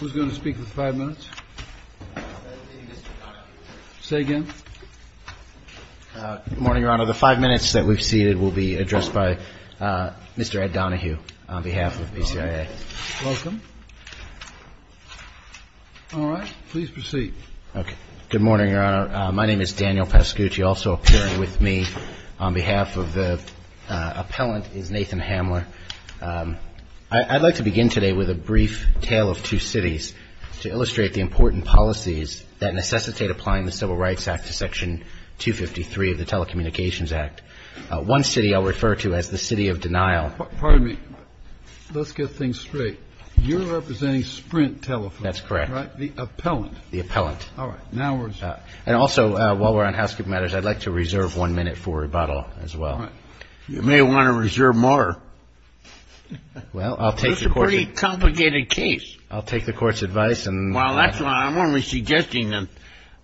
Who's going to speak with five minutes? Say again? Good morning, Your Honor. The five minutes that we've ceded will be addressed by Mr. Ed Donohue on behalf of PCIA. Welcome. All right. Please proceed. Okay. Good morning, Your Honor. My name is Daniel Pasucci. Also appearing with me on behalf of the appellant is Nathan Hamler. I'd like to begin today with a brief tale of two cities to illustrate the important policies that necessitate applying the Civil Rights Act to Section 253 of the Telecommunications Act. One city I'll refer to as the city of denial. Pardon me. Let's get things straight. You're representing Sprint Telephone. That's correct. The appellant. The appellant. All right. Now we're And also, while we're on housekeeping matters, I'd like to reserve one minute for rebuttal as well. You may want to reserve more. Well, I'll take the court's It's a pretty complicated case. I'll take the court's advice and Well, that's why I'm only suggesting that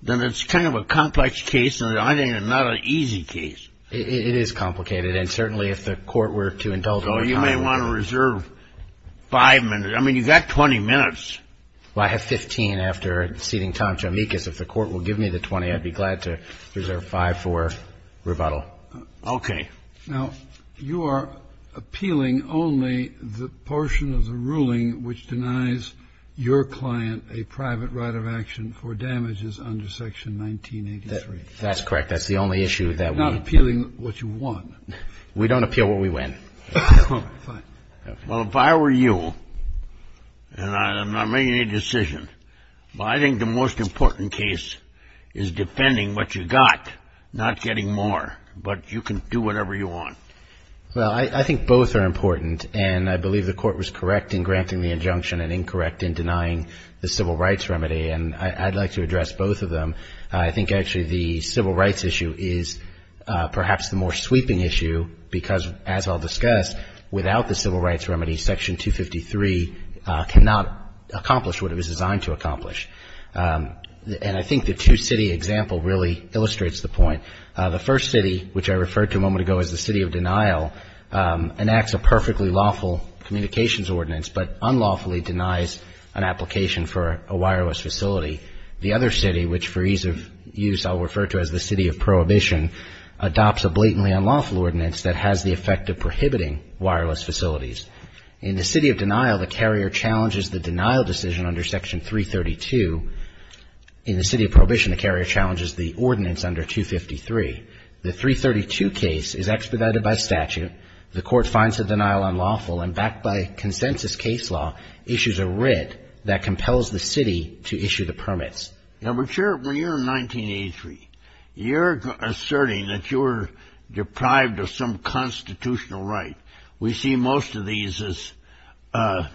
it's kind of a complex case and I think it's not an easy case. It is complicated, and certainly if the court were to indulge So you may want to reserve five minutes. I mean, you've got 20 minutes. Well, I have 15 after ceding time to amicus. If the court will give me the 20, I'd be glad to reserve five for rebuttal. Okay. Now, you are appealing only the portion of the ruling which denies your client a private right of action for damages under Section 1983. That's correct. That's the only issue that we You're not appealing what you want. We don't appeal what we win. All right. Fine. Well, if I were you, and I'm not making any decision, I think the most important case is defending what you got, not getting more, but you can do whatever you want. Well, I think both are important, and I believe the court was correct in granting the injunction and incorrect in denying the civil rights remedy, and I'd like to address both of them. I think actually the civil rights issue is perhaps the more sweeping issue because, as I'll discuss, without the civil rights remedy, Section 253 cannot accomplish what it was designed to accomplish. And I think the two-city example really illustrates the point. The first city, which I referred to a moment ago as the city of denial, enacts a perfectly lawful communications ordinance but unlawfully denies an application for a wireless facility. The other city, which for ease of use I'll refer to as the city of prohibition, adopts a blatantly unlawful ordinance that has the effect of prohibiting wireless facilities. In the city of denial, the carrier challenges the denial decision under Section 332. In the city of prohibition, the carrier challenges the ordinance under 253. The 332 case is expedited by statute. The court finds the denial unlawful and, backed by consensus case law, issues a writ that compels the city to issue the permits. Now, but Sheriff, when you're in 1983, you're asserting that you're deprived of some constitutional right. We see most of these as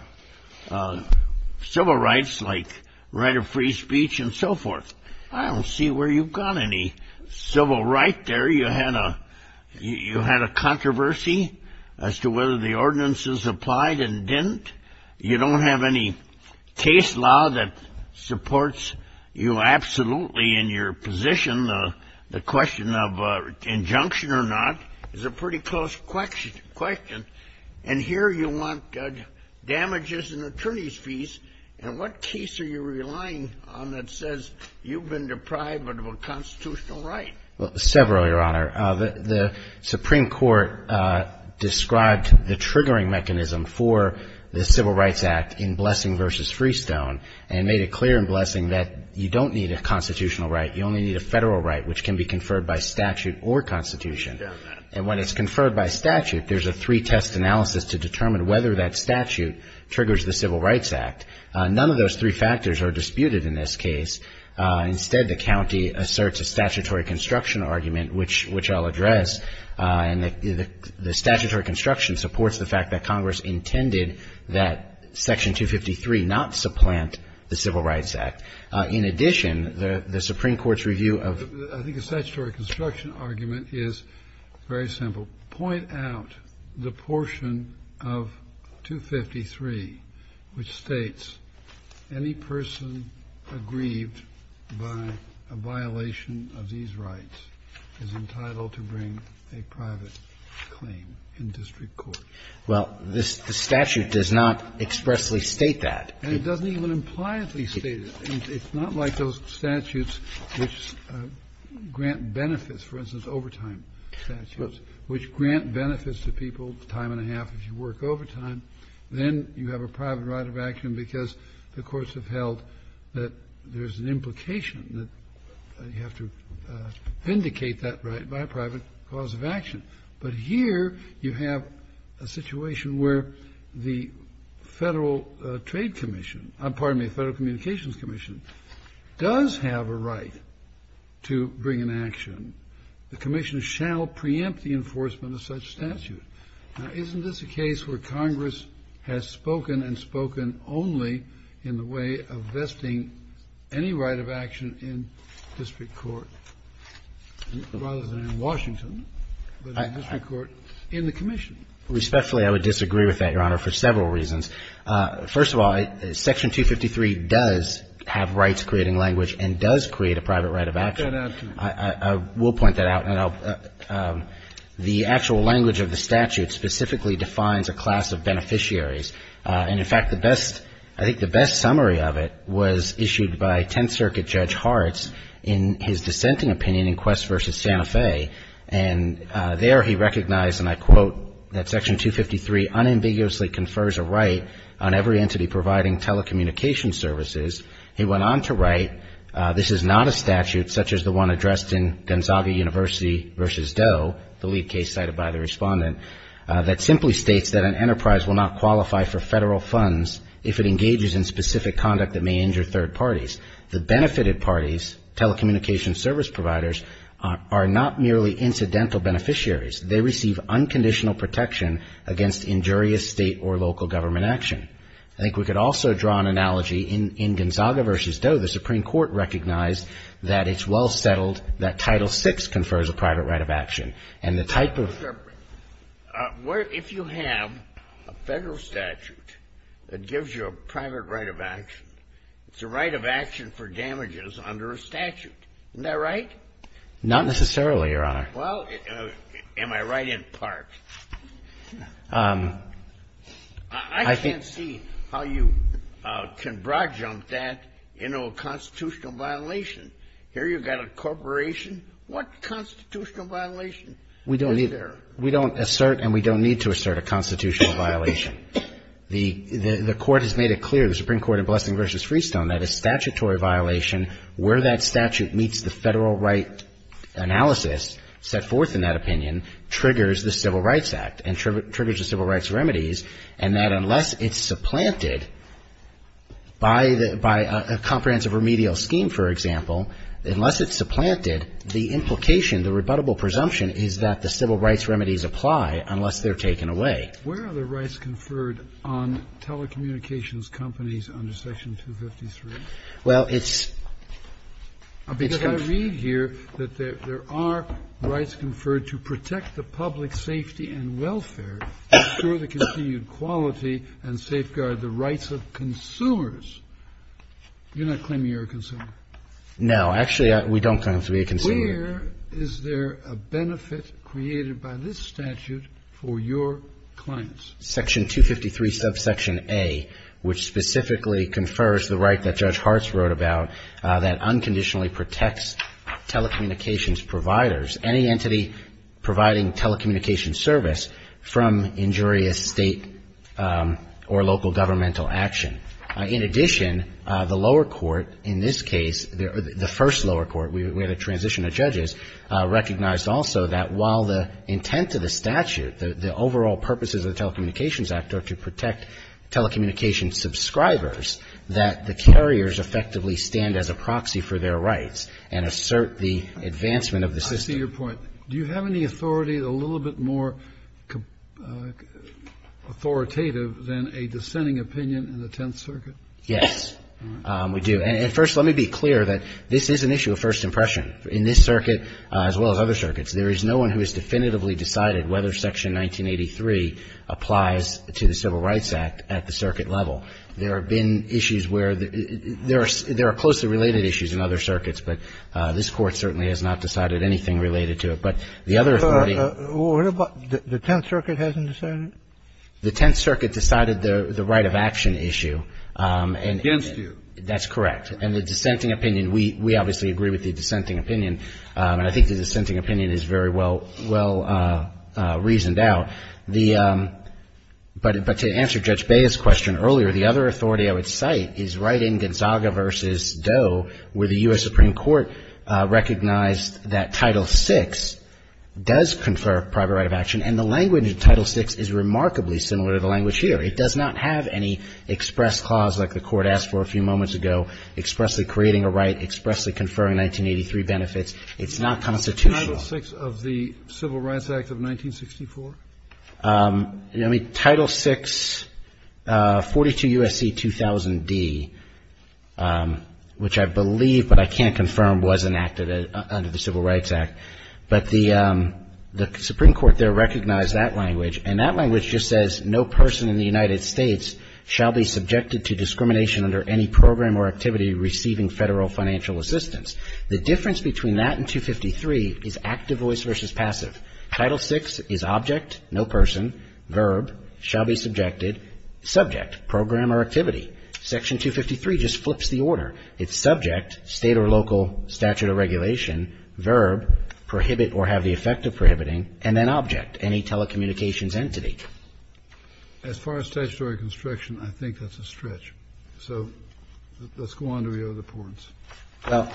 civil rights like right of free speech and so forth. I don't see where you've got any civil right there. You had a controversy as to whether the ordinance is applied and didn't. You don't have any case law that supports you absolutely in your position. The question of injunction or not is a pretty close question. And here you want damages and attorney's fees. And what case are you relying on that says you've been deprived of a constitutional right? Well, several, Your Honor. The Supreme Court described the triggering mechanism for the Civil Rights Act in Blessing v. Freestone and made it clear in Blessing that you don't need a constitutional right. You only need a federal right, which can be conferred by statute or constitution. And when it's conferred by statute, there's a three-test analysis to determine whether that statute triggers the Civil Rights Act. None of those three factors are disputed in this case. Instead, the county asserts a statutory construction argument, which I'll address. And the statutory construction supports the fact that Congress intended that Section 253 not supplant the Civil Rights Act. In addition, the Supreme Court's review of the ---- I think the statutory construction argument is very simple. Point out the portion of 253 which states any person aggrieved by a violation of these rights is entitled to bring a private claim in district court. Well, this statute does not expressly state that. And it doesn't even impliantly state it. It's not like those statutes which grant benefits, for instance, overtime statutes, which grant benefits to people time and a half if you work overtime. Then you have a private right of action because the courts have held that there's an implication that you have to vindicate that right by a private cause of action. But here you have a situation where the Federal Trade Commission ---- pardon me, the Federal Communications Commission does have a right to bring an action. The commission shall preempt the enforcement of such a statute. Now, isn't this a case where Congress has spoken and spoken only in the way of vesting any right of action in district court, rather than in Washington, but in district court in the commission? Respectfully, I would disagree with that, Your Honor, for several reasons. First of all, Section 253 does have rights creating language and does create a private right of action. I'll point that out, too. I will point that out. And I'll ---- the actual language of the statute specifically defines a class of beneficiaries. And, in fact, the best ---- I think the best summary of it was issued by Tenth Circuit Judge Hartz in his dissenting opinion in Quest v. Santa Fe. And there he recognized, and I quote, that Section 253 unambiguously confers a right on every entity providing telecommunication services. He went on to write, this is not a statute such as the one addressed in Gonzaga University v. Doe, the lead case cited by the Respondent, that simply states that an enterprise will not qualify for Federal funds if it engages in specific conduct that may injure third parties. The benefited parties, telecommunication service providers, are not merely incidental beneficiaries. They receive unconditional protection against injurious state or local government action. I think we could also draw an analogy in Gonzaga v. Doe. The Supreme Court recognized that it's well settled that Title VI confers a private right of action. And the type of ---- under a statute. Isn't that right? Not necessarily, Your Honor. Well, am I right in part? I can't see how you can broad jump that into a constitutional violation. Here you've got a corporation. What constitutional violation is there? We don't need to. We don't assert and we don't need to assert a constitutional violation. The Court has made it clear, the Supreme Court in Blessing v. Freestone, that a statutory violation, where that statute meets the Federal right analysis set forth in that opinion, triggers the Civil Rights Act and triggers the Civil Rights Remedies. And that unless it's supplanted by a comprehensive remedial scheme, for example, unless it's supplanted, the implication, the rebuttable presumption, is that the Civil Rights Remedies apply unless they're taken away. Where are the rights conferred on telecommunications companies under Section 253? Well, it's ---- Because I read here that there are rights conferred to protect the public safety and welfare, assure the continued quality and safeguard the rights of consumers. You're not claiming you're a consumer. No. Actually, we don't claim to be a consumer. Here, is there a benefit created by this statute for your clients? Section 253, subsection A, which specifically confers the right that Judge Hartz wrote about that unconditionally protects telecommunications providers, any entity providing telecommunications service from injurious State or local governmental action. In addition, the lower court in this case, the first lower court, we had a transition of judges, recognized also that while the intent of the statute, the overall purposes of the Telecommunications Act are to protect telecommunications subscribers, that the carriers effectively stand as a proxy for their rights and assert the advancement of the system. I see your point. Do you have any authority a little bit more authoritative than a dissenting opinion in the Tenth Circuit? Yes, we do. And first, let me be clear that this is an issue of first impression. In this circuit, as well as other circuits, there is no one who has definitively decided whether Section 1983 applies to the Civil Rights Act at the circuit level. There have been issues where there are closely related issues in other circuits, but this Court certainly has not decided anything related to it. But the other authority What about the Tenth Circuit hasn't decided? The Tenth Circuit decided the right of action issue. And that's correct. And the dissenting opinion, we obviously agree with the dissenting opinion, and I think the dissenting opinion is very well reasoned out. But to answer Judge Bea's question earlier, the other authority I would cite is right in Gonzaga v. Doe, where the U.S. Supreme Court recognized that Title VI does confer private right of action, and the language of Title VI is remarkably similar to the language here. It does not have any express clause like the Court asked for a few moments ago, expressly creating a right, expressly conferring 1983 benefits. It's not constitutional. Title VI of the Civil Rights Act of 1964? Title VI, 42 U.S.C. 2000d, which I believe, but I can't confirm, was enacted under the Civil Rights Act. But the Supreme Court there recognized that language, and that language just says no person in the United States shall be subjected to discrimination under any program or activity receiving federal financial assistance. The difference between that and 253 is active voice versus passive. Title VI is object, no person, verb, shall be subjected, subject, program or activity. Section 253 just flips the order. It's subject, State or local statute of regulation, verb, prohibit or have the effect of prohibiting, and then object, any telecommunications entity. Kennedy. As far as statutory construction, I think that's a stretch. So let's go on to the other points. Verrilli, Jr. Well,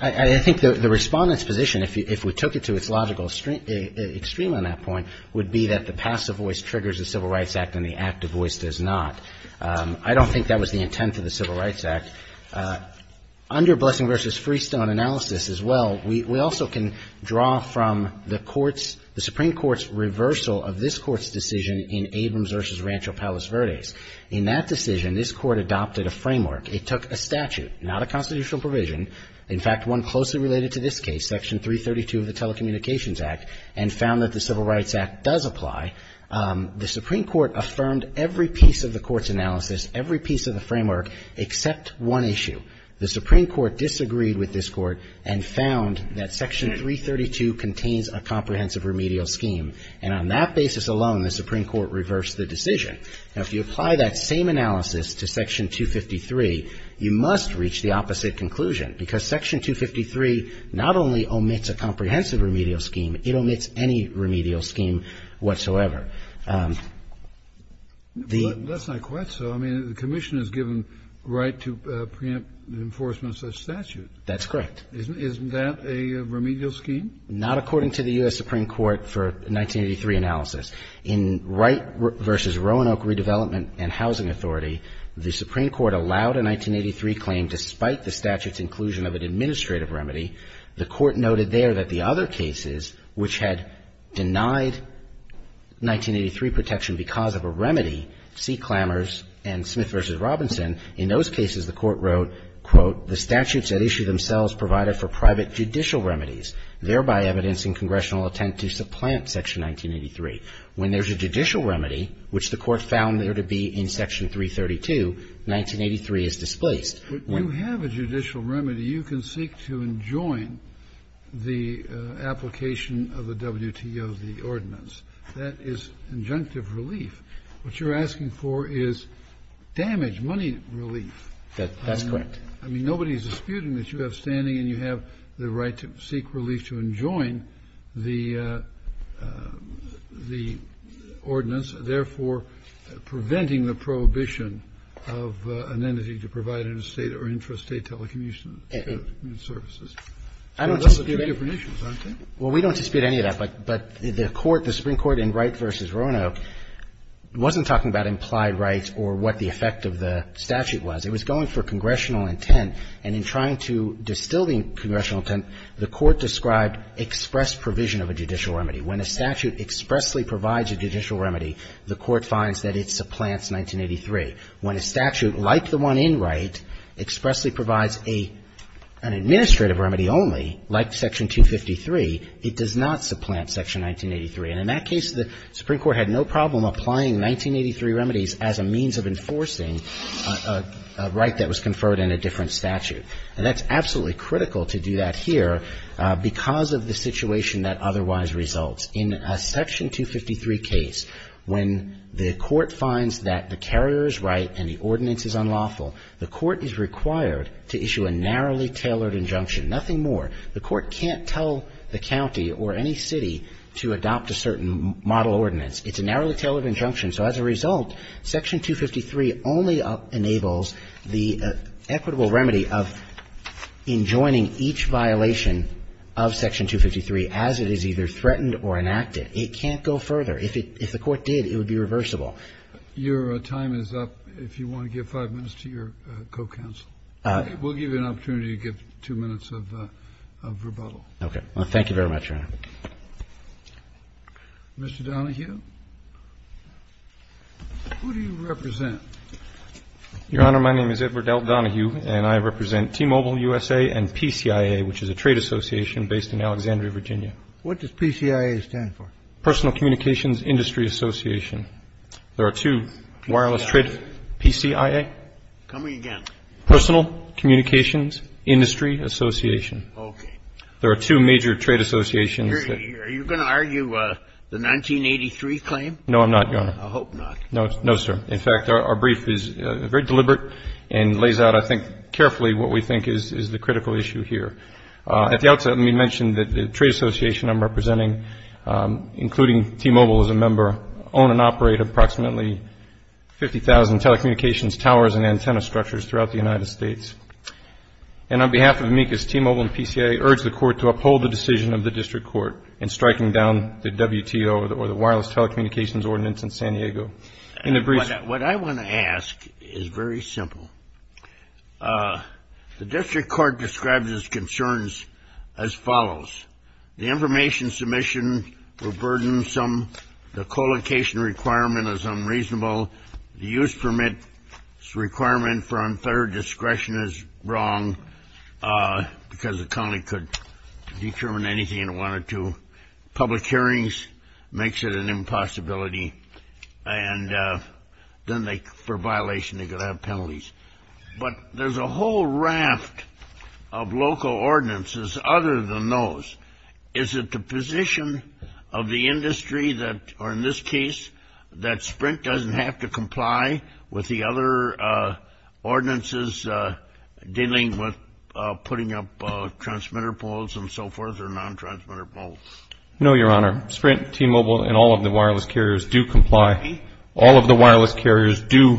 I think the Respondent's position, if we took it to its logical extreme on that point, would be that the passive voice triggers the Civil Rights Act and the active voice does not. I don't think that was the intent of the Civil Rights Act. Under Blessing v. Freestone analysis as well, we also can draw from the Court's, the Supreme Court's reversal of this Court's decision in Abrams v. Rancho Palos Verdes. In that decision, this Court adopted a framework. It took a statute, not a constitutional provision, in fact, one closely related to this case, Section 332 of the Telecommunications Act, and found that the Civil Rights Act does apply. The Supreme Court affirmed every piece of the Court's analysis, every piece of the framework except one issue. The Supreme Court disagreed with this Court and found that Section 332 contains a comprehensive remedial scheme. And on that basis alone, the Supreme Court reversed the decision. Now, if you apply that same analysis to Section 253, you must reach the opposite conclusion because Section 253 not only omits a comprehensive remedial scheme, it omits any remedial scheme whatsoever. The… But that's not quite so. I mean, the Commission has given right to preempt enforcement of such statute. That's correct. Isn't that a remedial scheme? Not according to the U.S. Supreme Court for 1983 analysis. In Wright v. Roanoke Redevelopment and Housing Authority, the Supreme Court allowed a 1983 claim despite the statute's inclusion of an administrative remedy. The Court noted there that the other cases which had denied 1983 protection because of a remedy, C. Clammers and Smith v. Robinson, in those cases the Court wrote, quote, "... the statutes at issue themselves provided for private judicial remedies, thereby evidencing congressional attempt to supplant Section 1983. When there is a judicial remedy, which the Court found there to be in Section 332, 1983 is displaced." But you have a judicial remedy. You can seek to enjoin the application of the WTO, the ordinance. That is injunctive relief. What you're asking for is damage, money relief. That's correct. I mean, nobody is disputing that you have standing and you have the right to seek relief to enjoin the ordinance, therefore preventing the prohibition of an entity to provide interstate or intrastate telecommunications services. So those are two different issues, aren't they? Well, we don't dispute any of that. But the Court, the Supreme Court in Wright v. Roanoke, wasn't talking about implied rights or what the effect of the statute was. It was going for congressional intent, and in trying to distill the congressional intent, the Court described express provision of a judicial remedy. When a statute expressly provides a judicial remedy, the Court finds that it supplants 1983. When a statute, like the one in Wright, expressly provides an administrative remedy only, like Section 253, it does not supplant Section 1983. And in that case, the Supreme Court had no problem applying 1983 remedies as a means of enforcing a right that was conferred in a different statute. And that's absolutely critical to do that here because of the situation that otherwise results. In a Section 253 case, when the Court finds that the carrier's right and the ordinance is unlawful, the Court is required to issue a narrowly tailored injunction, nothing more. The Court can't tell the county or any city to adopt a certain model ordinance. It's a narrowly tailored injunction. So as a result, Section 253 only enables the equitable remedy of enjoining each violation of Section 253 as it is either threatened or enacted. It can't go further. If the Court did, it would be reversible. Your time is up. If you want to give five minutes to your co-counsel. We'll give you an opportunity to give two minutes of rebuttal. Okay. Well, thank you very much, Your Honor. Mr. Donohue, who do you represent? Your Honor, my name is Edward L. Donohue, and I represent T-Mobile USA and PCIA, which is a trade association based in Alexandria, Virginia. What does PCIA stand for? Personal Communications Industry Association. There are two wireless trade PCIA. Come again. Personal Communications Industry Association. Okay. There are two major trade associations. Are you going to argue the 1983 claim? No, I'm not, Your Honor. I hope not. No, sir. In fact, our brief is very deliberate and lays out, I think, carefully what we think is the critical issue here. At the outset, let me mention that the trade association I'm representing, including T-Mobile as a member, own and operate approximately 50,000 telecommunications towers and antenna structures throughout the United States. And on behalf of amicus, T-Mobile and PCIA urge the court to uphold the decision of the district court in striking down the WTO or the Wireless Telecommunications Ordinance in San Diego. What I want to ask is very simple. The district court describes its concerns as follows. The information submission were burdensome. The colocation requirement is unreasonable. The use permit requirement for unfair discretion is wrong because the county could determine anything in one or two public hearings. It makes it an impossibility. And then for violation, they could have penalties. But there's a whole raft of local ordinances other than those. Is it the position of the industry or, in this case, that Sprint doesn't have to comply with the other ordinances dealing with putting up transmitter poles and so forth or non-transmitter poles? No, Your Honor. Sprint, T-Mobile and all of the wireless carriers do comply. All of the wireless carriers do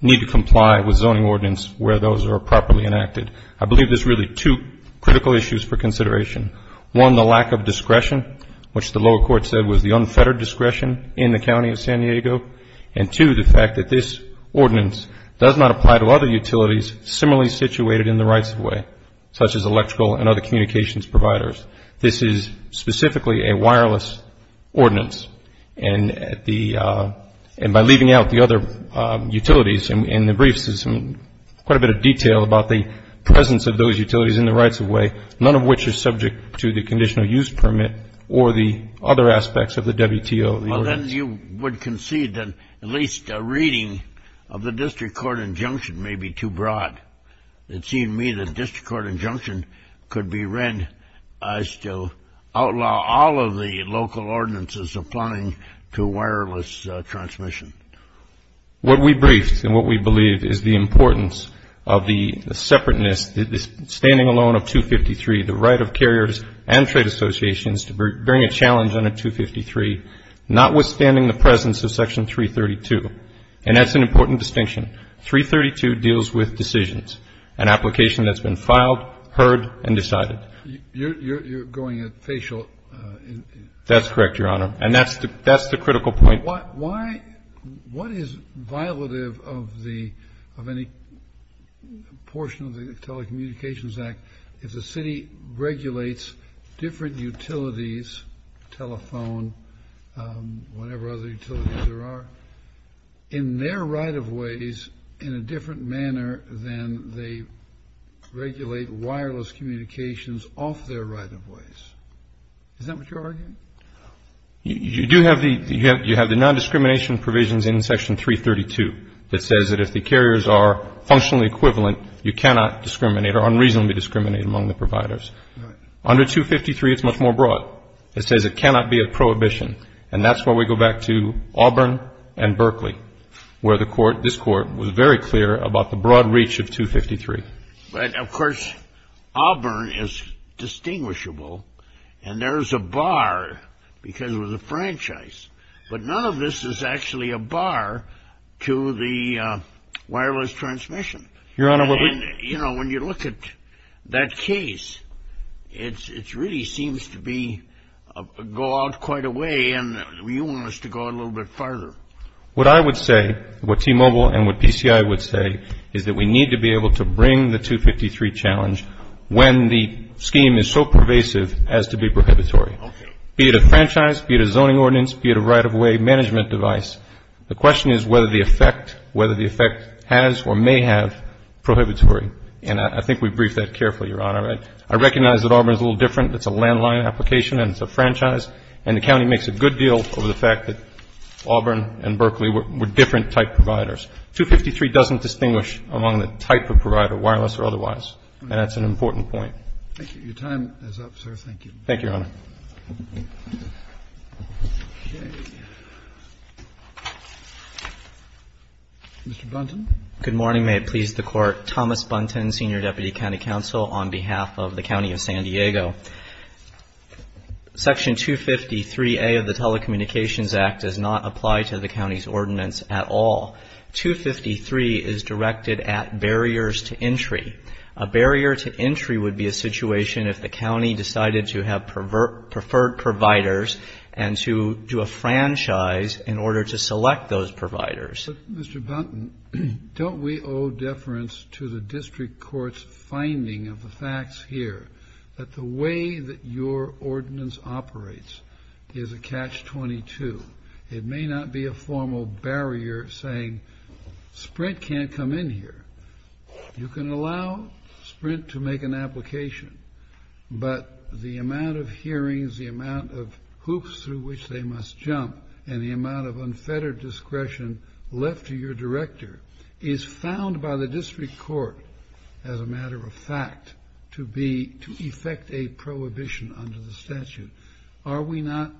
need to comply with zoning ordinance where those are properly enacted. I believe there's really two critical issues for consideration. One, the lack of discretion, which the lower court said was the unfettered discretion in the county of San Diego. And, two, the fact that this ordinance does not apply to other utilities similarly situated in the rights-of-way, such as electrical and other communications providers. This is specifically a wireless ordinance. And by leaving out the other utilities in the briefs, there's quite a bit of detail about the presence of those utilities in the rights-of-way, none of which is subject to the conditional use permit or the other aspects of the WTO. Well, then you would concede that at least a reading of the district court injunction may be too broad. It seemed to me that the district court injunction could be read as to outlaw all of the local ordinances applying to wireless transmission. What we briefed and what we believe is the importance of the separateness, the standing alone of 253, the right of carriers and trade associations to bring a challenge under 253, notwithstanding the presence of Section 332. And that's an important distinction. Section 332 deals with decisions, an application that's been filed, heard, and decided. You're going at facial. That's correct, Your Honor. And that's the critical point. What is violative of any portion of the Telecommunications Act if the city regulates different utilities, telephone, whatever other utilities there are, in their right-of-ways in a different manner than they regulate wireless communications off their right-of-ways? Is that what you're arguing? You do have the non-discrimination provisions in Section 332 that says that if the carriers are functionally equivalent, you cannot discriminate or unreasonably discriminate among the providers. All right. Under 253, it's much more broad. It says it cannot be a prohibition. And that's why we go back to Auburn and Berkeley, where this Court was very clear about the broad reach of 253. But, of course, Auburn is distinguishable, and there's a bar because it was a franchise. But none of this is actually a bar to the wireless transmission. You know, when you look at that case, it really seems to be go out quite a way, and you want us to go a little bit farther. What I would say, what T-Mobile and what PCI would say, is that we need to be able to bring the 253 challenge when the scheme is so pervasive as to be prohibitory. Okay. Be it a franchise, be it a zoning ordinance, be it a right-of-way management device. The question is whether the effect has or may have prohibitory. And I think we briefed that carefully, Your Honor. I recognize that Auburn is a little different. It's a landline application, and it's a franchise. And the county makes a good deal over the fact that Auburn and Berkeley were different type providers. 253 doesn't distinguish among the type of provider, wireless or otherwise. And that's an important point. Thank you. Your time is up, sir. Thank you. Thank you, Your Honor. Okay. Mr. Buntin. Good morning. May it please the Court. Thomas Buntin, Senior Deputy County Counsel on behalf of the County of San Diego. Section 253A of the Telecommunications Act does not apply to the county's ordinance at all. 253 is directed at barriers to entry. A barrier to entry would be a situation if the county decided to have preferred providers and to do a franchise in order to select those providers. Mr. Buntin, don't we owe deference to the district court's finding of the facts here, that the way that your ordinance operates is a catch-22? It may not be a formal barrier saying Sprint can't come in here. You can allow Sprint to make an application, but the amount of hearings, the amount of hoops through which they must jump, and the amount of unfettered discretion left to your director is found by the district court as a matter of fact to effect a prohibition under the statute. Are we not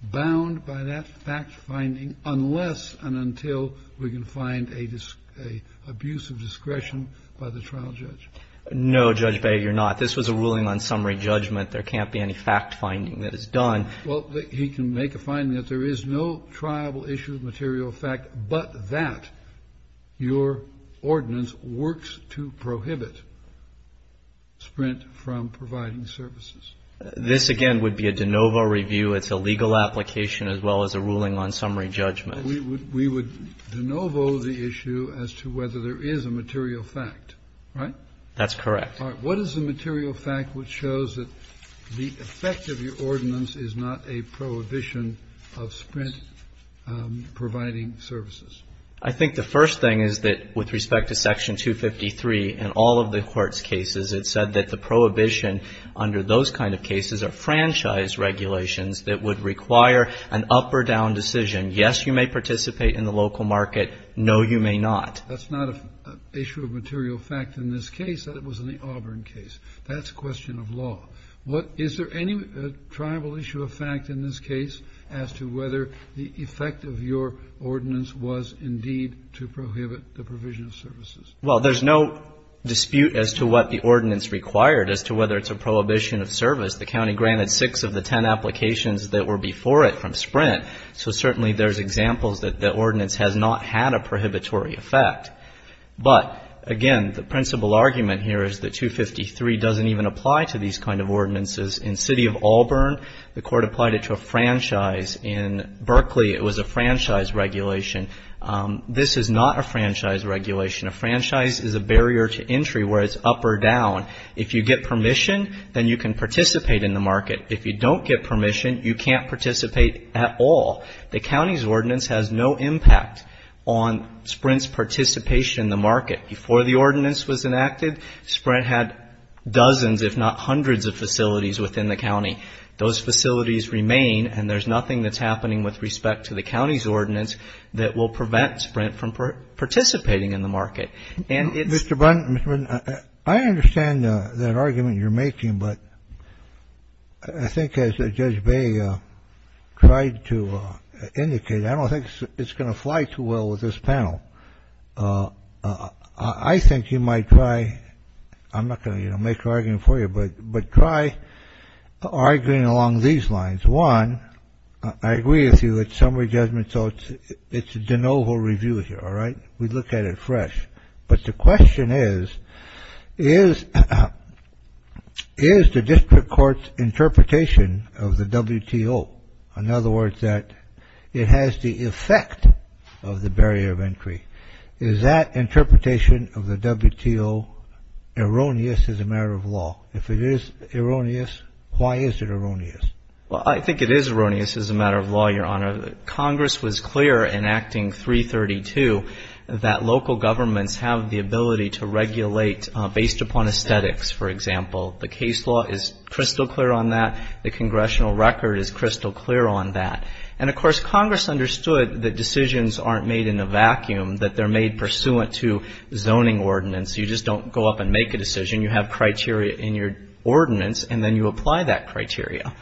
bound by that fact-finding unless and until we can find an abuse of discretion by the trial judge? No, Judge Beyer, you're not. This was a ruling on summary judgment. There can't be any fact-finding that is done. Well, he can make a finding that there is no triable issue of material effect, but that your ordinance works to prohibit Sprint from providing services. This, again, would be a de novo review. It's a legal application as well as a ruling on summary judgment. We would de novo the issue as to whether there is a material fact, right? That's correct. All right. What is the material fact which shows that the effect of your ordinance is not a prohibition of Sprint providing services? I think the first thing is that with respect to Section 253 and all of the court's cases, it said that the prohibition under those kind of cases are franchise regulations that would require an up or down decision. Yes, you may participate in the local market. No, you may not. That's not an issue of material fact in this case. That was in the Auburn case. That's a question of law. Is there any triable issue of fact in this case as to whether the effect of your ordinance was indeed to prohibit the provision of services? Well, there's no dispute as to what the ordinance required, as to whether it's a prohibition of service. The county granted six of the ten applications that were before it from Sprint, so certainly there's examples that the ordinance has not had a prohibitory effect. But, again, the principal argument here is that 253 doesn't even apply to these kind of ordinances. In the city of Auburn, the court applied it to a franchise. In Berkeley, it was a franchise regulation. This is not a franchise regulation. A franchise is a barrier to entry where it's up or down. If you get permission, then you can participate in the market. If you don't get permission, you can't participate at all. The county's ordinance has no impact on Sprint's participation in the market. Before the ordinance was enacted, Sprint had dozens if not hundreds of facilities within the county. Those facilities remain, and there's nothing that's happening with respect to the county's ordinance that will prevent Sprint from participating in the market. Mr. Bunn, I understand that argument you're making, but I think as Judge Bay tried to indicate, I don't think it's going to fly too well with this panel. I think you might try, I'm not going to make an argument for you, but try arguing along these lines. One, I agree with you that summary judgment, so it's a de novo review here, all right? We look at it fresh. But the question is, is the district court's interpretation of the WTO, in other words, that it has the effect of the barrier of entry, is that interpretation of the WTO erroneous as a matter of law? If it is erroneous, why is it erroneous? Well, I think it is erroneous as a matter of law, Your Honor. Congress was clear in Acting 332 that local governments have the ability to regulate based upon aesthetics, for example. The case law is crystal clear on that. The congressional record is crystal clear on that. And, of course, Congress understood that decisions aren't made in a vacuum, that they're made pursuant to zoning ordinance. You just don't go up and make a decision. You have criteria in your ordinance, and then you apply that criteria.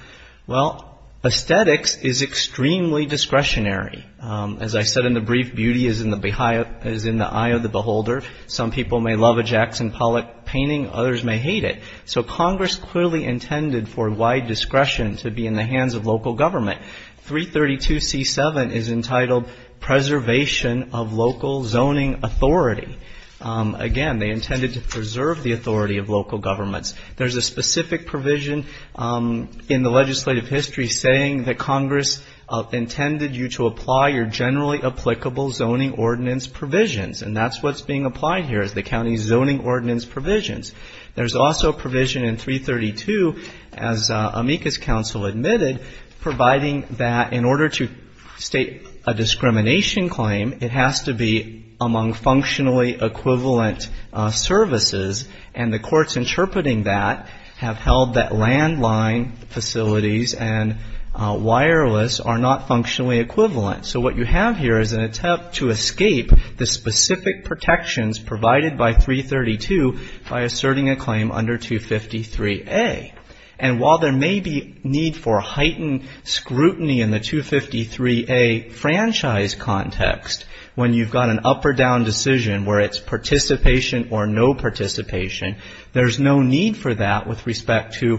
Well, aesthetics is extremely discretionary. As I said in the brief, beauty is in the eye of the beholder. Some people may love a Jackson Pollock painting, others may hate it. So Congress clearly intended for wide discretion to be in the hands of local government. 332C7 is entitled Preservation of Local Zoning Authority. Again, they intended to preserve the authority of local governments. There's a specific provision in the legislative history saying that Congress intended you to apply your generally applicable zoning ordinance provisions, and that's what's being applied here is the county's zoning ordinance provisions. There's also a provision in 332, as Amica's counsel admitted, providing that in order to state a discrimination claim, it has to be among functionally equivalent services, and the courts interpreting that have held that landline facilities and wireless are not functionally equivalent. So what you have here is an attempt to escape the specific protections provided by 332 by asserting a claim under 253A. And while there may be need for heightened scrutiny in the 253A franchise context when you've got an up or down decision where it's participation or no participation, there's no need for that with respect to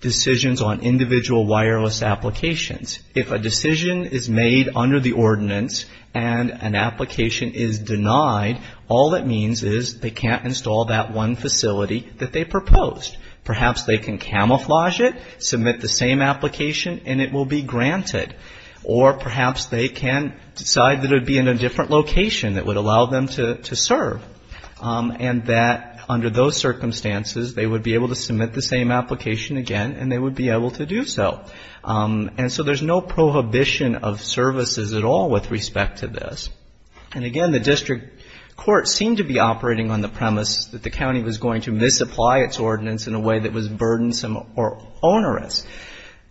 decisions on individual wireless applications. If a decision is made under the ordinance and an application is denied, all it means is they can't install that one facility that they proposed. Perhaps they can camouflage it, submit the same application, and it will be granted. Or perhaps they can decide that it would be in a different location that would allow them to serve, and that under those circumstances they would be able to submit the same application again and they would be able to do so. And so there's no prohibition of services at all with respect to this. And again, the district courts seem to be operating on the premise that the county was going to misapply its ordinance in a way that was burdensome or onerous.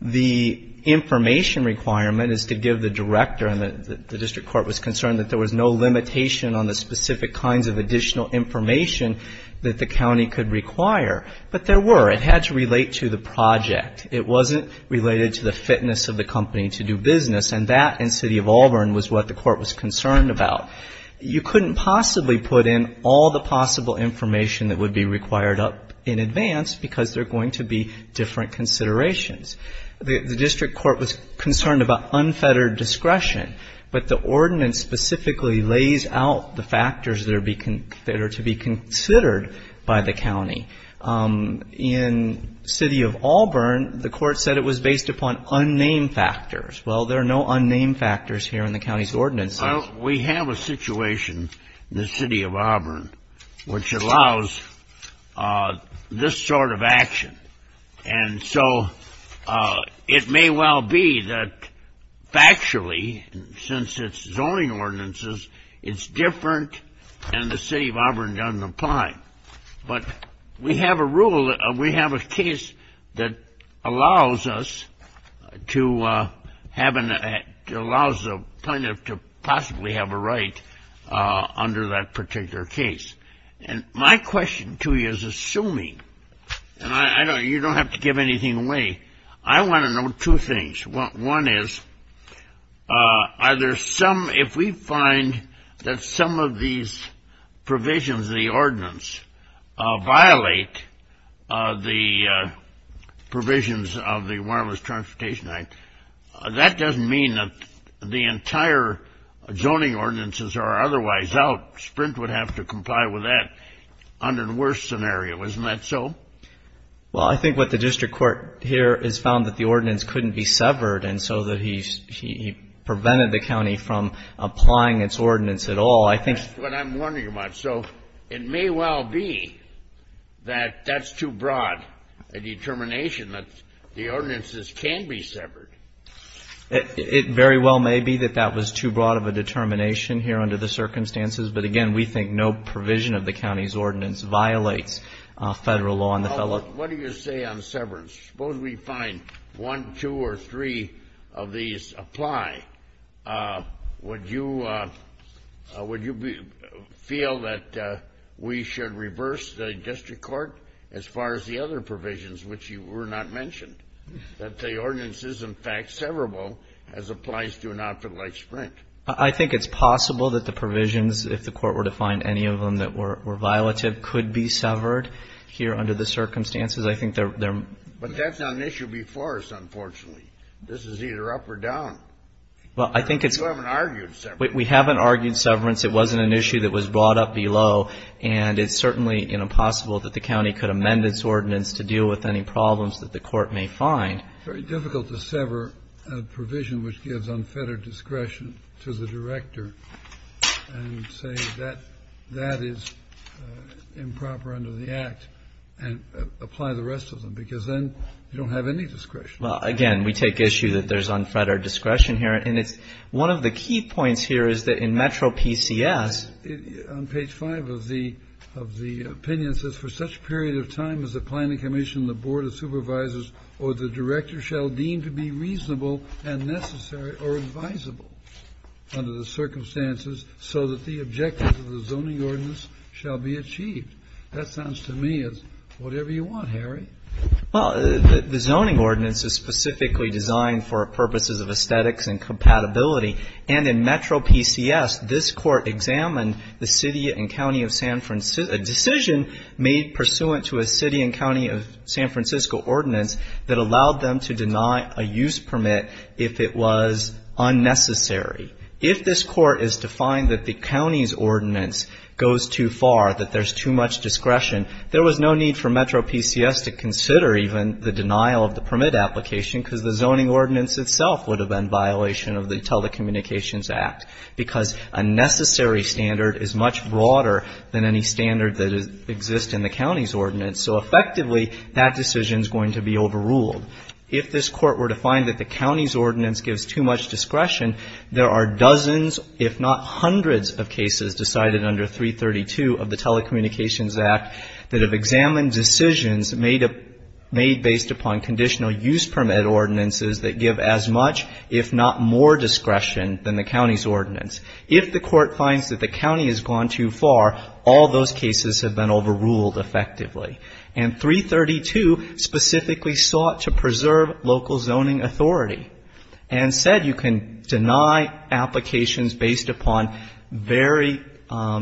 The information requirement is to give the director, and the district court was concerned that there was no limitation on the specific kinds of additional information that the county could require. But there were. It had to relate to the project. It wasn't related to the fitness of the company to do business, and that in the City of Auburn was what the court was concerned about. You couldn't possibly put in all the possible information that would be required up in advance because there are going to be different considerations. The district court was concerned about unfettered discretion, but the ordinance specifically lays out the factors that are to be considered by the county. In City of Auburn, the court said it was based upon unnamed factors. Well, there are no unnamed factors here in the county's ordinances. Well, we have a situation in the City of Auburn which allows this sort of action. And so it may well be that factually, since it's zoning ordinances, it's different and the City of Auburn doesn't apply. But we have a case that allows us to possibly have a right under that particular case. And my question to you is assuming, and you don't have to give anything away, I want to know two things. One is, are there some, if we find that some of these provisions of the ordinance violate the provisions of the Wireless Transportation Act, that doesn't mean that the entire zoning ordinances are otherwise out. Sprint would have to comply with that under the worst scenario. Isn't that so? Well, I think what the district court here has found that the ordinance couldn't be severed and so that he prevented the county from applying its ordinance at all. That's what I'm wondering about. So it may well be that that's too broad a determination, that the ordinances can be severed. It very well may be that that was too broad of a determination here under the circumstances. But, again, we think no provision of the county's ordinance violates federal law. What do you say on severance? Suppose we find one, two, or three of these apply. Would you feel that we should reverse the district court as far as the other provisions, which were not mentioned? That the ordinance is, in fact, severable as applies to an option like Sprint? I think it's possible that the provisions, if the court were to find any of them that were violative, could be severed here under the circumstances. But that's not an issue before us, unfortunately. This is either up or down. You haven't argued severance. We haven't argued severance. It wasn't an issue that was brought up below. And it's certainly, you know, possible that the county could amend its ordinance to deal with any problems that the court may find. It's very difficult to sever a provision which gives unfettered discretion to the director and say that that is improper under the Act and apply the rest of them, because then you don't have any discretion. Well, again, we take issue that there's unfettered discretion here. And it's one of the key points here is that in Metro PCS. On page 5 of the opinion, it says, For such period of time as the Planning Commission and the Board of Supervisors or the director shall deem to be reasonable and necessary or advisable under the circumstances so that the objectives of the zoning ordinance shall be achieved. That sounds to me as whatever you want, Harry. Well, the zoning ordinance is specifically designed for purposes of aesthetics and compatibility, and in Metro PCS, this Court examined the city and county of San Francisco, a decision made pursuant to a city and county of San Francisco ordinance that allowed them to deny a use permit if it was unnecessary. If this Court is to find that the county's ordinance goes too far, that there's too much discretion, there was no need for Metro PCS to consider even the denial of the permit application because the zoning ordinance itself would have been a violation of the Telecommunications Act because a necessary standard is much broader than any standard that exists in the county's ordinance. So effectively, that decision is going to be overruled. If this Court were to find that the county's ordinance gives too much discretion, there are dozens if not hundreds of cases decided under 332 of the Telecommunications Act that have examined decisions made based upon conditional use permit ordinances that give as much if not more discretion than the county's ordinance. If the Court finds that the county has gone too far, all those cases have been overruled effectively. And 332 specifically sought to preserve local zoning authority and said you can deny applications based upon very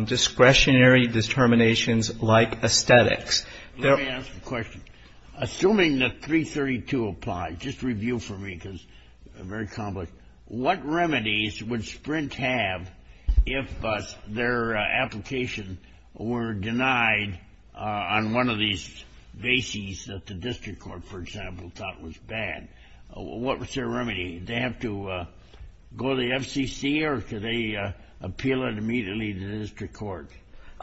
discretionary determinations like aesthetics. Let me ask a question. Assuming that 332 applies, just review for me because it's very complex. What remedies would Sprint have if their application were denied on one of these bases that the district court, for example, thought was bad? What's their remedy? Do they have to go to the FCC or do they appeal it immediately to the district court?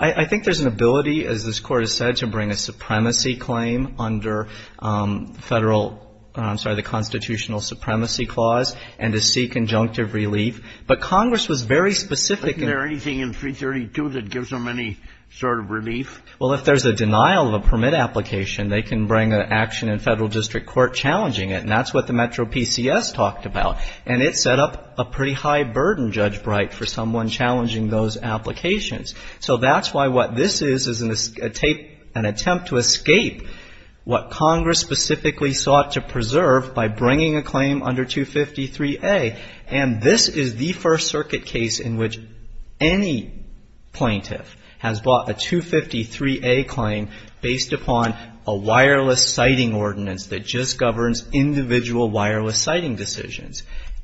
I think there's an ability, as this Court has said, to bring a supremacy claim under the Constitutional Supremacy Clause and to seek conjunctive relief. But Congress was very specific. Isn't there anything in 332 that gives them any sort of relief? Well, if there's a denial of a permit application, they can bring an action in federal district court challenging it, and that's what the metro PCS talked about. And it set up a pretty high burden, Judge Bright, for someone challenging those applications. So that's why what this is is an attempt to escape what Congress specifically sought to preserve by bringing a claim under 253A. And this is the First Circuit case in which any plaintiff has brought a 253A claim based upon a wireless siting ordinance that just governs individual wireless siting decisions.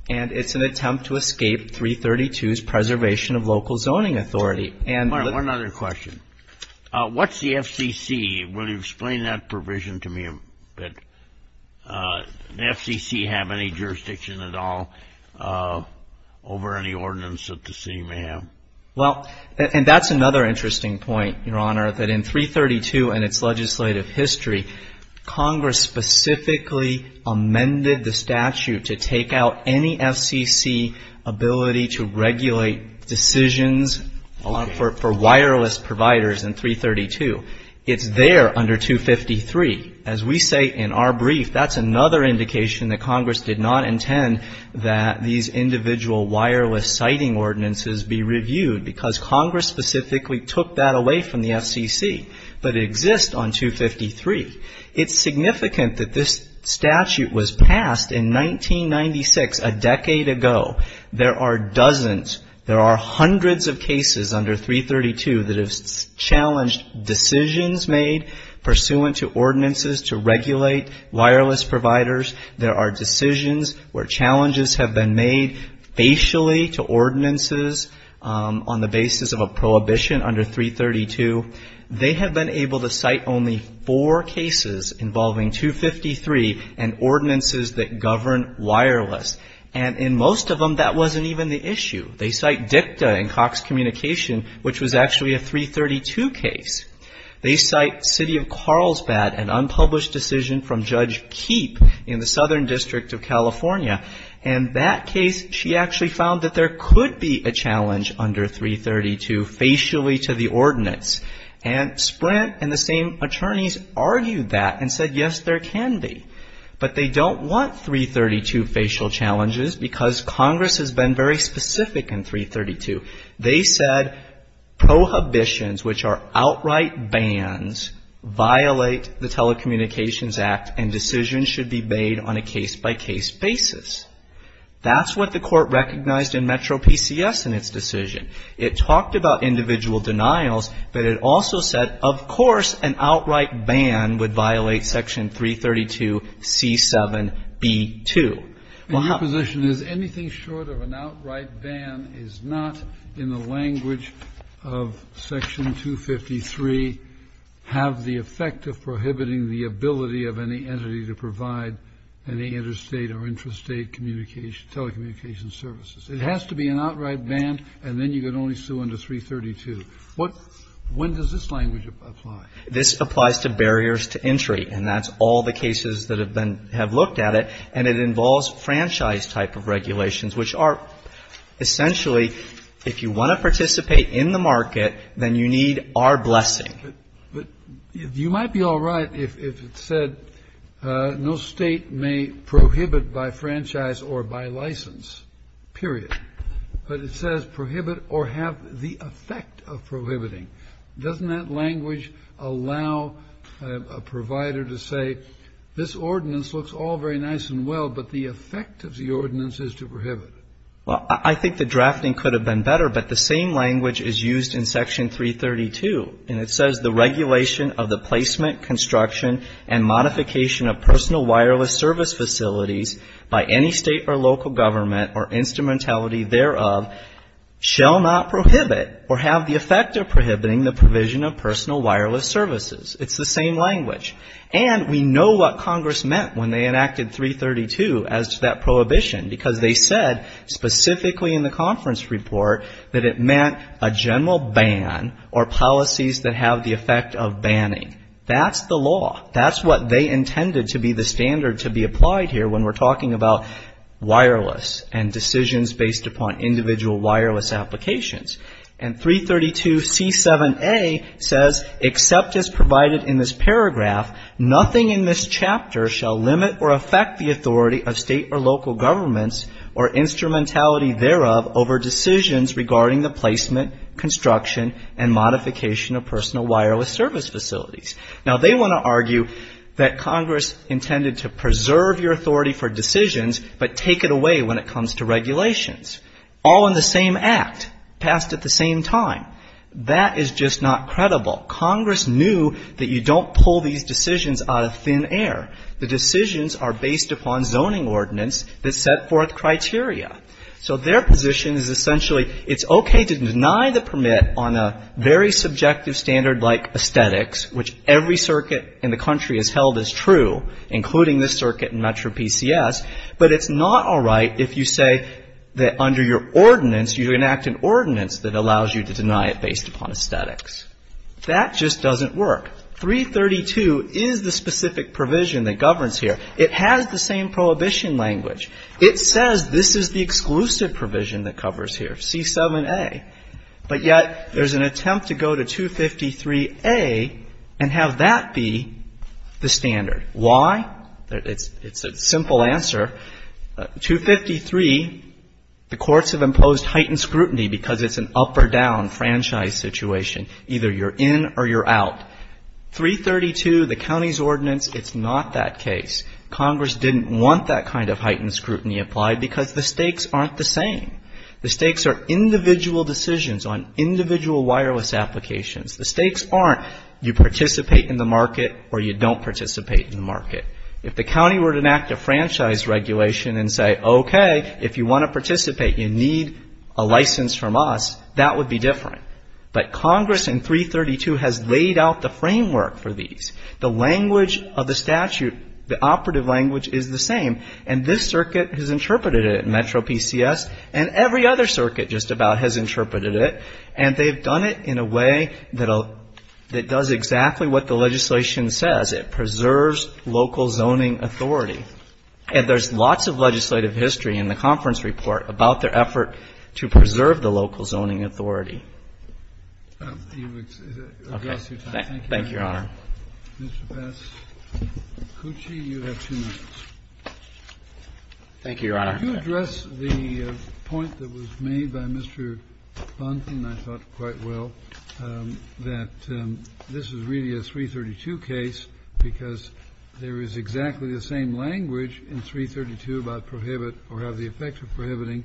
And it's an attempt to escape 332's preservation of local zoning authority. One other question. What's the FCC? Will you explain that provision to me a bit? Does the FCC have any jurisdiction at all over any ordinance that the city may have? Well, and that's another interesting point, Your Honor, that in 332 and its legislative history, decisions for wireless providers in 332, it's there under 253. As we say in our brief, that's another indication that Congress did not intend that these individual wireless siting ordinances be reviewed, because Congress specifically took that away from the FCC. But it exists on 253. It's significant that this statute was passed in 1996, a decade ago. There are dozens, there are hundreds of cases under 332 that have challenged decisions made pursuant to ordinances to regulate wireless providers. There are decisions where challenges have been made facially to ordinances on the basis of a prohibition under 332. They have been able to cite only four cases involving 253 and ordinances that govern wireless. And in most of them, that wasn't even the issue. They cite DICTA and Cox Communication, which was actually a 332 case. They cite City of Carlsbad, an unpublished decision from Judge Keepe in the Southern District of California. And that case, she actually found that there could be a challenge under 332 facially to the ordinance. And Sprint and the same attorneys argued that and said, yes, there can be. But they don't want 332 facial challenges because Congress has been very specific in 332. They said prohibitions, which are outright bans, violate the Telecommunications Act and decisions should be made on a case-by-case basis. That's what the Court recognized in Metro PCS in its decision. It talked about individual denials, but it also said, of course, an outright ban would violate Section 332C7B2. Well, how do you do that? Kennedy. Well, your position is anything short of an outright ban is not in the language of Section 253 have the effect of prohibiting the ability of any entity to provide any interstate or intrastate communication, telecommunications services. It has to be an outright ban, and then you can only sue under 332. When does this language apply? This applies to barriers to entry, and that's all the cases that have looked at it, and it involves franchise type of regulations, which are essentially, if you want to participate in the market, then you need our blessing. But you might be all right if it said no State may prohibit by franchise or by license, period. But it says prohibit or have the effect of prohibiting. Doesn't that language allow a provider to say, this ordinance looks all very nice and well, but the effect of the ordinance is to prohibit? Well, I think the drafting could have been better, but the same language is used in Section 332, and it says the regulation of the placement, construction, and modification of personal wireless service facilities by any State or local government or instrumentality thereof shall not prohibit or have the effect of prohibiting the provision of personal wireless services. It's the same language. And we know what Congress meant when they enacted 332 as to that prohibition, because they said specifically in the conference report that it meant a general ban or policies that have the effect of banning. That's the law. That's what they intended to be the standard to be applied here when we're talking about wireless and decisions based upon individual wireless applications. And 332C7A says, except as provided in this paragraph, nothing in this chapter shall limit or affect the authority of State or local governments or instrumentality thereof over decisions regarding the placement, construction, and modification of personal wireless service facilities. Now, they want to argue that Congress intended to preserve your authority for decisions, but take it away when it comes to regulations. All in the same act, passed at the same time. That is just not credible. Congress knew that you don't pull these decisions out of thin air. The decisions are based upon zoning ordinance that set forth criteria. So their position is essentially, it's okay to deny the permit on a very subjective standard like aesthetics, which every circuit in the country has held as true, including this circuit and MetroPCS, but it's not all right if you say that under your ordinance, you enact an ordinance that allows you to deny it based upon aesthetics. That just doesn't work. 332 is the specific provision that governs here. It has the same prohibition language. It says this is the exclusive provision that covers here, C7A, but yet there's an attempt to go to 253A and have that be the standard. Why? It's a simple answer. 253, the courts have imposed heightened scrutiny because it's an up or down franchise situation. Either you're in or you're out. 332, the county's ordinance, it's not that case. Congress didn't want that kind of heightened scrutiny applied because the stakes aren't the same. The stakes are individual decisions on individual wireless applications. The stakes aren't you participate in the market or you don't participate in the market. If the county were to enact a franchise regulation and say, okay, if you want to participate, you need a license from us, that would be different. But Congress in 332 has laid out the framework for these. The language of the statute, the operative language is the same, and this circuit has interpreted it in MetroPCS, and every other circuit just about has interpreted it, and they've done it in a way that does exactly what the legislation says. It preserves local zoning authority. And there's lots of legislative history in the conference report about their effort to preserve the local zoning authority. Thank you, Your Honor. Mr. Passacucci, you have two minutes. Thank you, Your Honor. Could you address the point that was made by Mr. Buntin, I thought, quite well, that this is really a 332 case because there is exactly the same language in 332 about prohibit or have the effect of prohibiting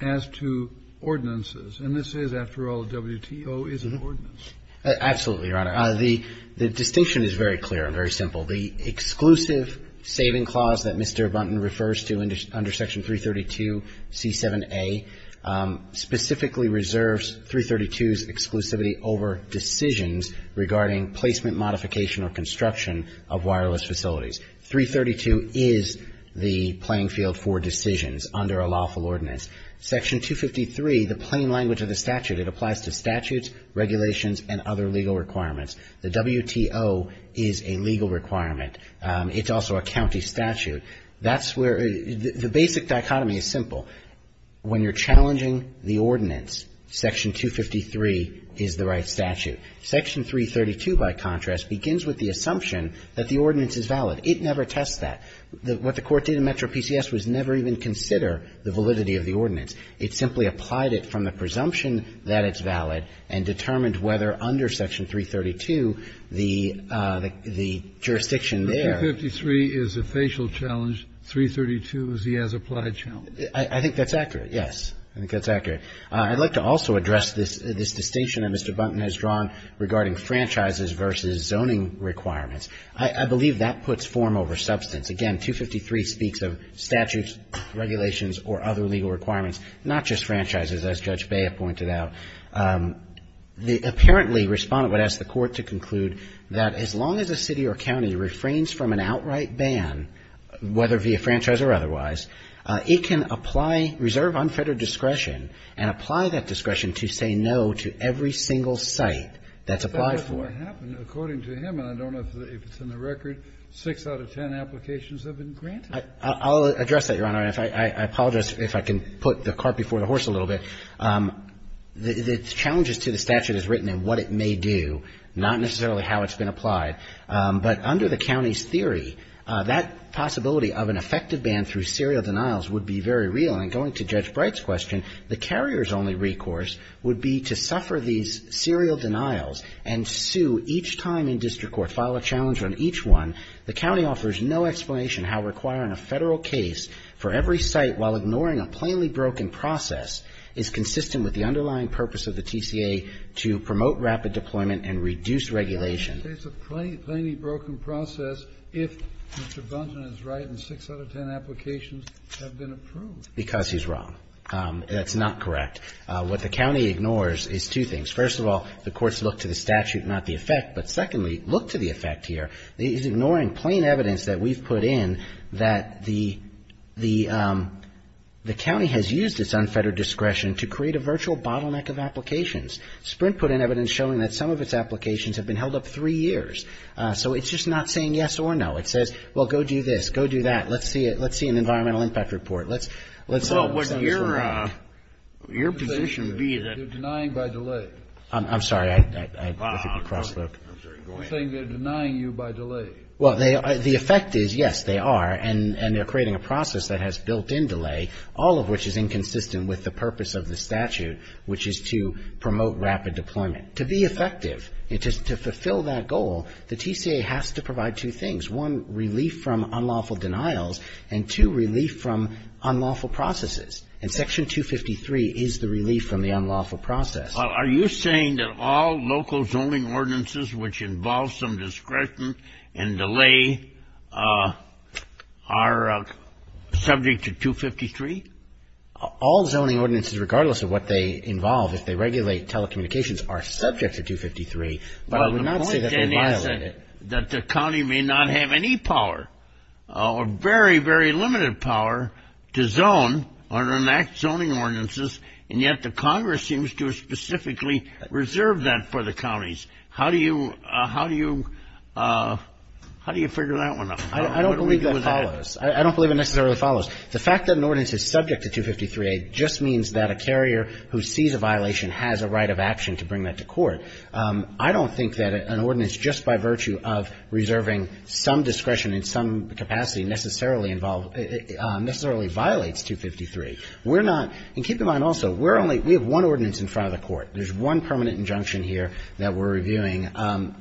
as to ordinances. And this is, after all, WTO is an ordinance. Absolutely, Your Honor. The distinction is very clear and very simple. The exclusive saving clause that Mr. Buntin refers to under Section 332C7A specifically reserves 332's exclusivity over decisions regarding placement, modification, or construction of wireless facilities. 332 is the playing field for decisions under a lawful ordinance. Section 253, the plain language of the statute, it applies to statutes, regulations, and other legal requirements. The WTO is a legal requirement. It's also a county statute. That's where the basic dichotomy is simple. When you're challenging the ordinance, Section 253 is the right statute. Section 332, by contrast, begins with the assumption that the ordinance is valid. It never tests that. What the Court did in Metro PCS was never even consider the validity of the ordinance. It simply applied it from the presumption that it's valid and determined whether under Section 332 the jurisdiction there. But 253 is a facial challenge. 332 is the as-applied challenge. I think that's accurate, yes. I think that's accurate. I'd like to also address this distinction that Mr. Buntin has drawn regarding franchises versus zoning requirements. I believe that puts form over substance. Again, 253 speaks of statutes, regulations, or other legal requirements, not just The apparently Respondent would ask the Court to conclude that as long as a city or county refrains from an outright ban, whether via franchise or otherwise, it can apply reserve unfettered discretion and apply that discretion to say no to every single site that's applied for. But what happened, according to him, and I don't know if it's in the record, six out of ten applications have been granted. I'll address that, Your Honor. I apologize if I can put the cart before the horse a little bit. The challenges to the statute is written in what it may do, not necessarily how it's been applied. But under the county's theory, that possibility of an effective ban through serial denials would be very real. And going to Judge Bright's question, the carrier's only recourse would be to suffer these serial denials and sue each time in district court, file a challenge on each one. The county offers no explanation how requiring a federal case for every site while is consistent with the underlying purpose of the TCA to promote rapid deployment and reduce regulation. Kennedy. It's a plainly broken process if Mr. Bunton is right and six out of ten applications have been approved. Because he's wrong. That's not correct. What the county ignores is two things. First of all, the courts look to the statute, not the effect. But secondly, look to the effect here. He's ignoring plain evidence that we've put in that the county has used its unfettered discretion to create a virtual bottleneck of applications. Sprint put in evidence showing that some of its applications have been held up three years. So it's just not saying yes or no. It says, well, go do this. Go do that. Let's see an environmental impact report. Well, wouldn't your position be that they're denying by delay? I'm sorry. Go ahead. You're saying they're denying you by delay. Well, the effect is, yes, they are. And they're creating a process that has built in delay, all of which is inconsistent with the purpose of the statute, which is to promote rapid deployment. To be effective and to fulfill that goal, the TCA has to provide two things, one, relief from unlawful denials, and two, relief from unlawful processes. And Section 253 is the relief from the unlawful process. Are you saying that all local zoning ordinances which involve some discretion and delay are subject to 253? All zoning ordinances, regardless of what they involve, if they regulate telecommunications, are subject to 253. But I would not say that they violate it. Well, the point then is that the county may not have any power or very, very limited power to zone or enact zoning ordinances, and yet the Congress seems to have specifically reserved that for the counties. How do you figure that one out? I don't believe it necessarily follows. The fact that an ordinance is subject to 253A just means that a carrier who sees a violation has a right of action to bring that to court. I don't think that an ordinance just by virtue of reserving some discretion in some capacity necessarily violates 253. And keep in mind also, we have one ordinance in front of the court. There's one permanent injunction here that we're reviewing.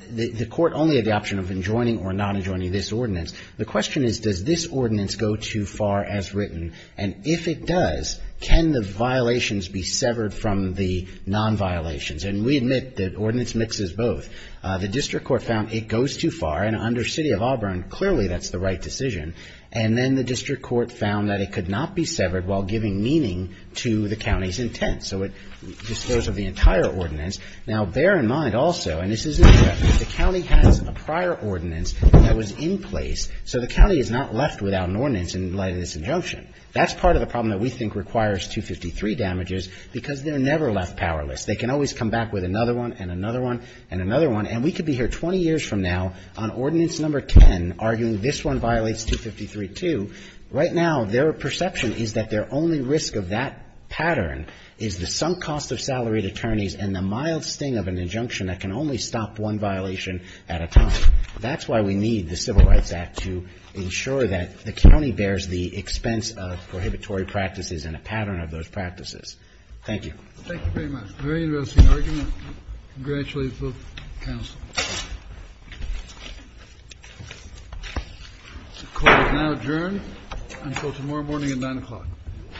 The court only had the option of enjoining or not enjoining this ordinance. The question is, does this ordinance go too far as written? And if it does, can the violations be severed from the nonviolations? And we admit that ordinance mixes both. The district court found it goes too far, and under City of Auburn, clearly that's the right decision. And then the district court found that it could not be severed while giving meaning to the county's intent. So it disposes of the entire ordinance. Now, bear in mind also, and this is in effect, that the county has a prior ordinance that was in place. So the county is not left without an ordinance in light of this injunction. That's part of the problem that we think requires 253 damages, because they're never left powerless. They can always come back with another one and another one and another one. And we could be here 20 years from now on ordinance number 10 arguing this one violates 253 too. Right now, their perception is that their only risk of that pattern is the sunk cost of salaried attorneys and the mild sting of an injunction that can only stop one violation at a time. That's why we need the Civil Rights Act to ensure that the county bears the expense of prohibitory practices and a pattern of those practices. Thank you. Thank you very much. Very interesting argument. Congratulations, both counsels.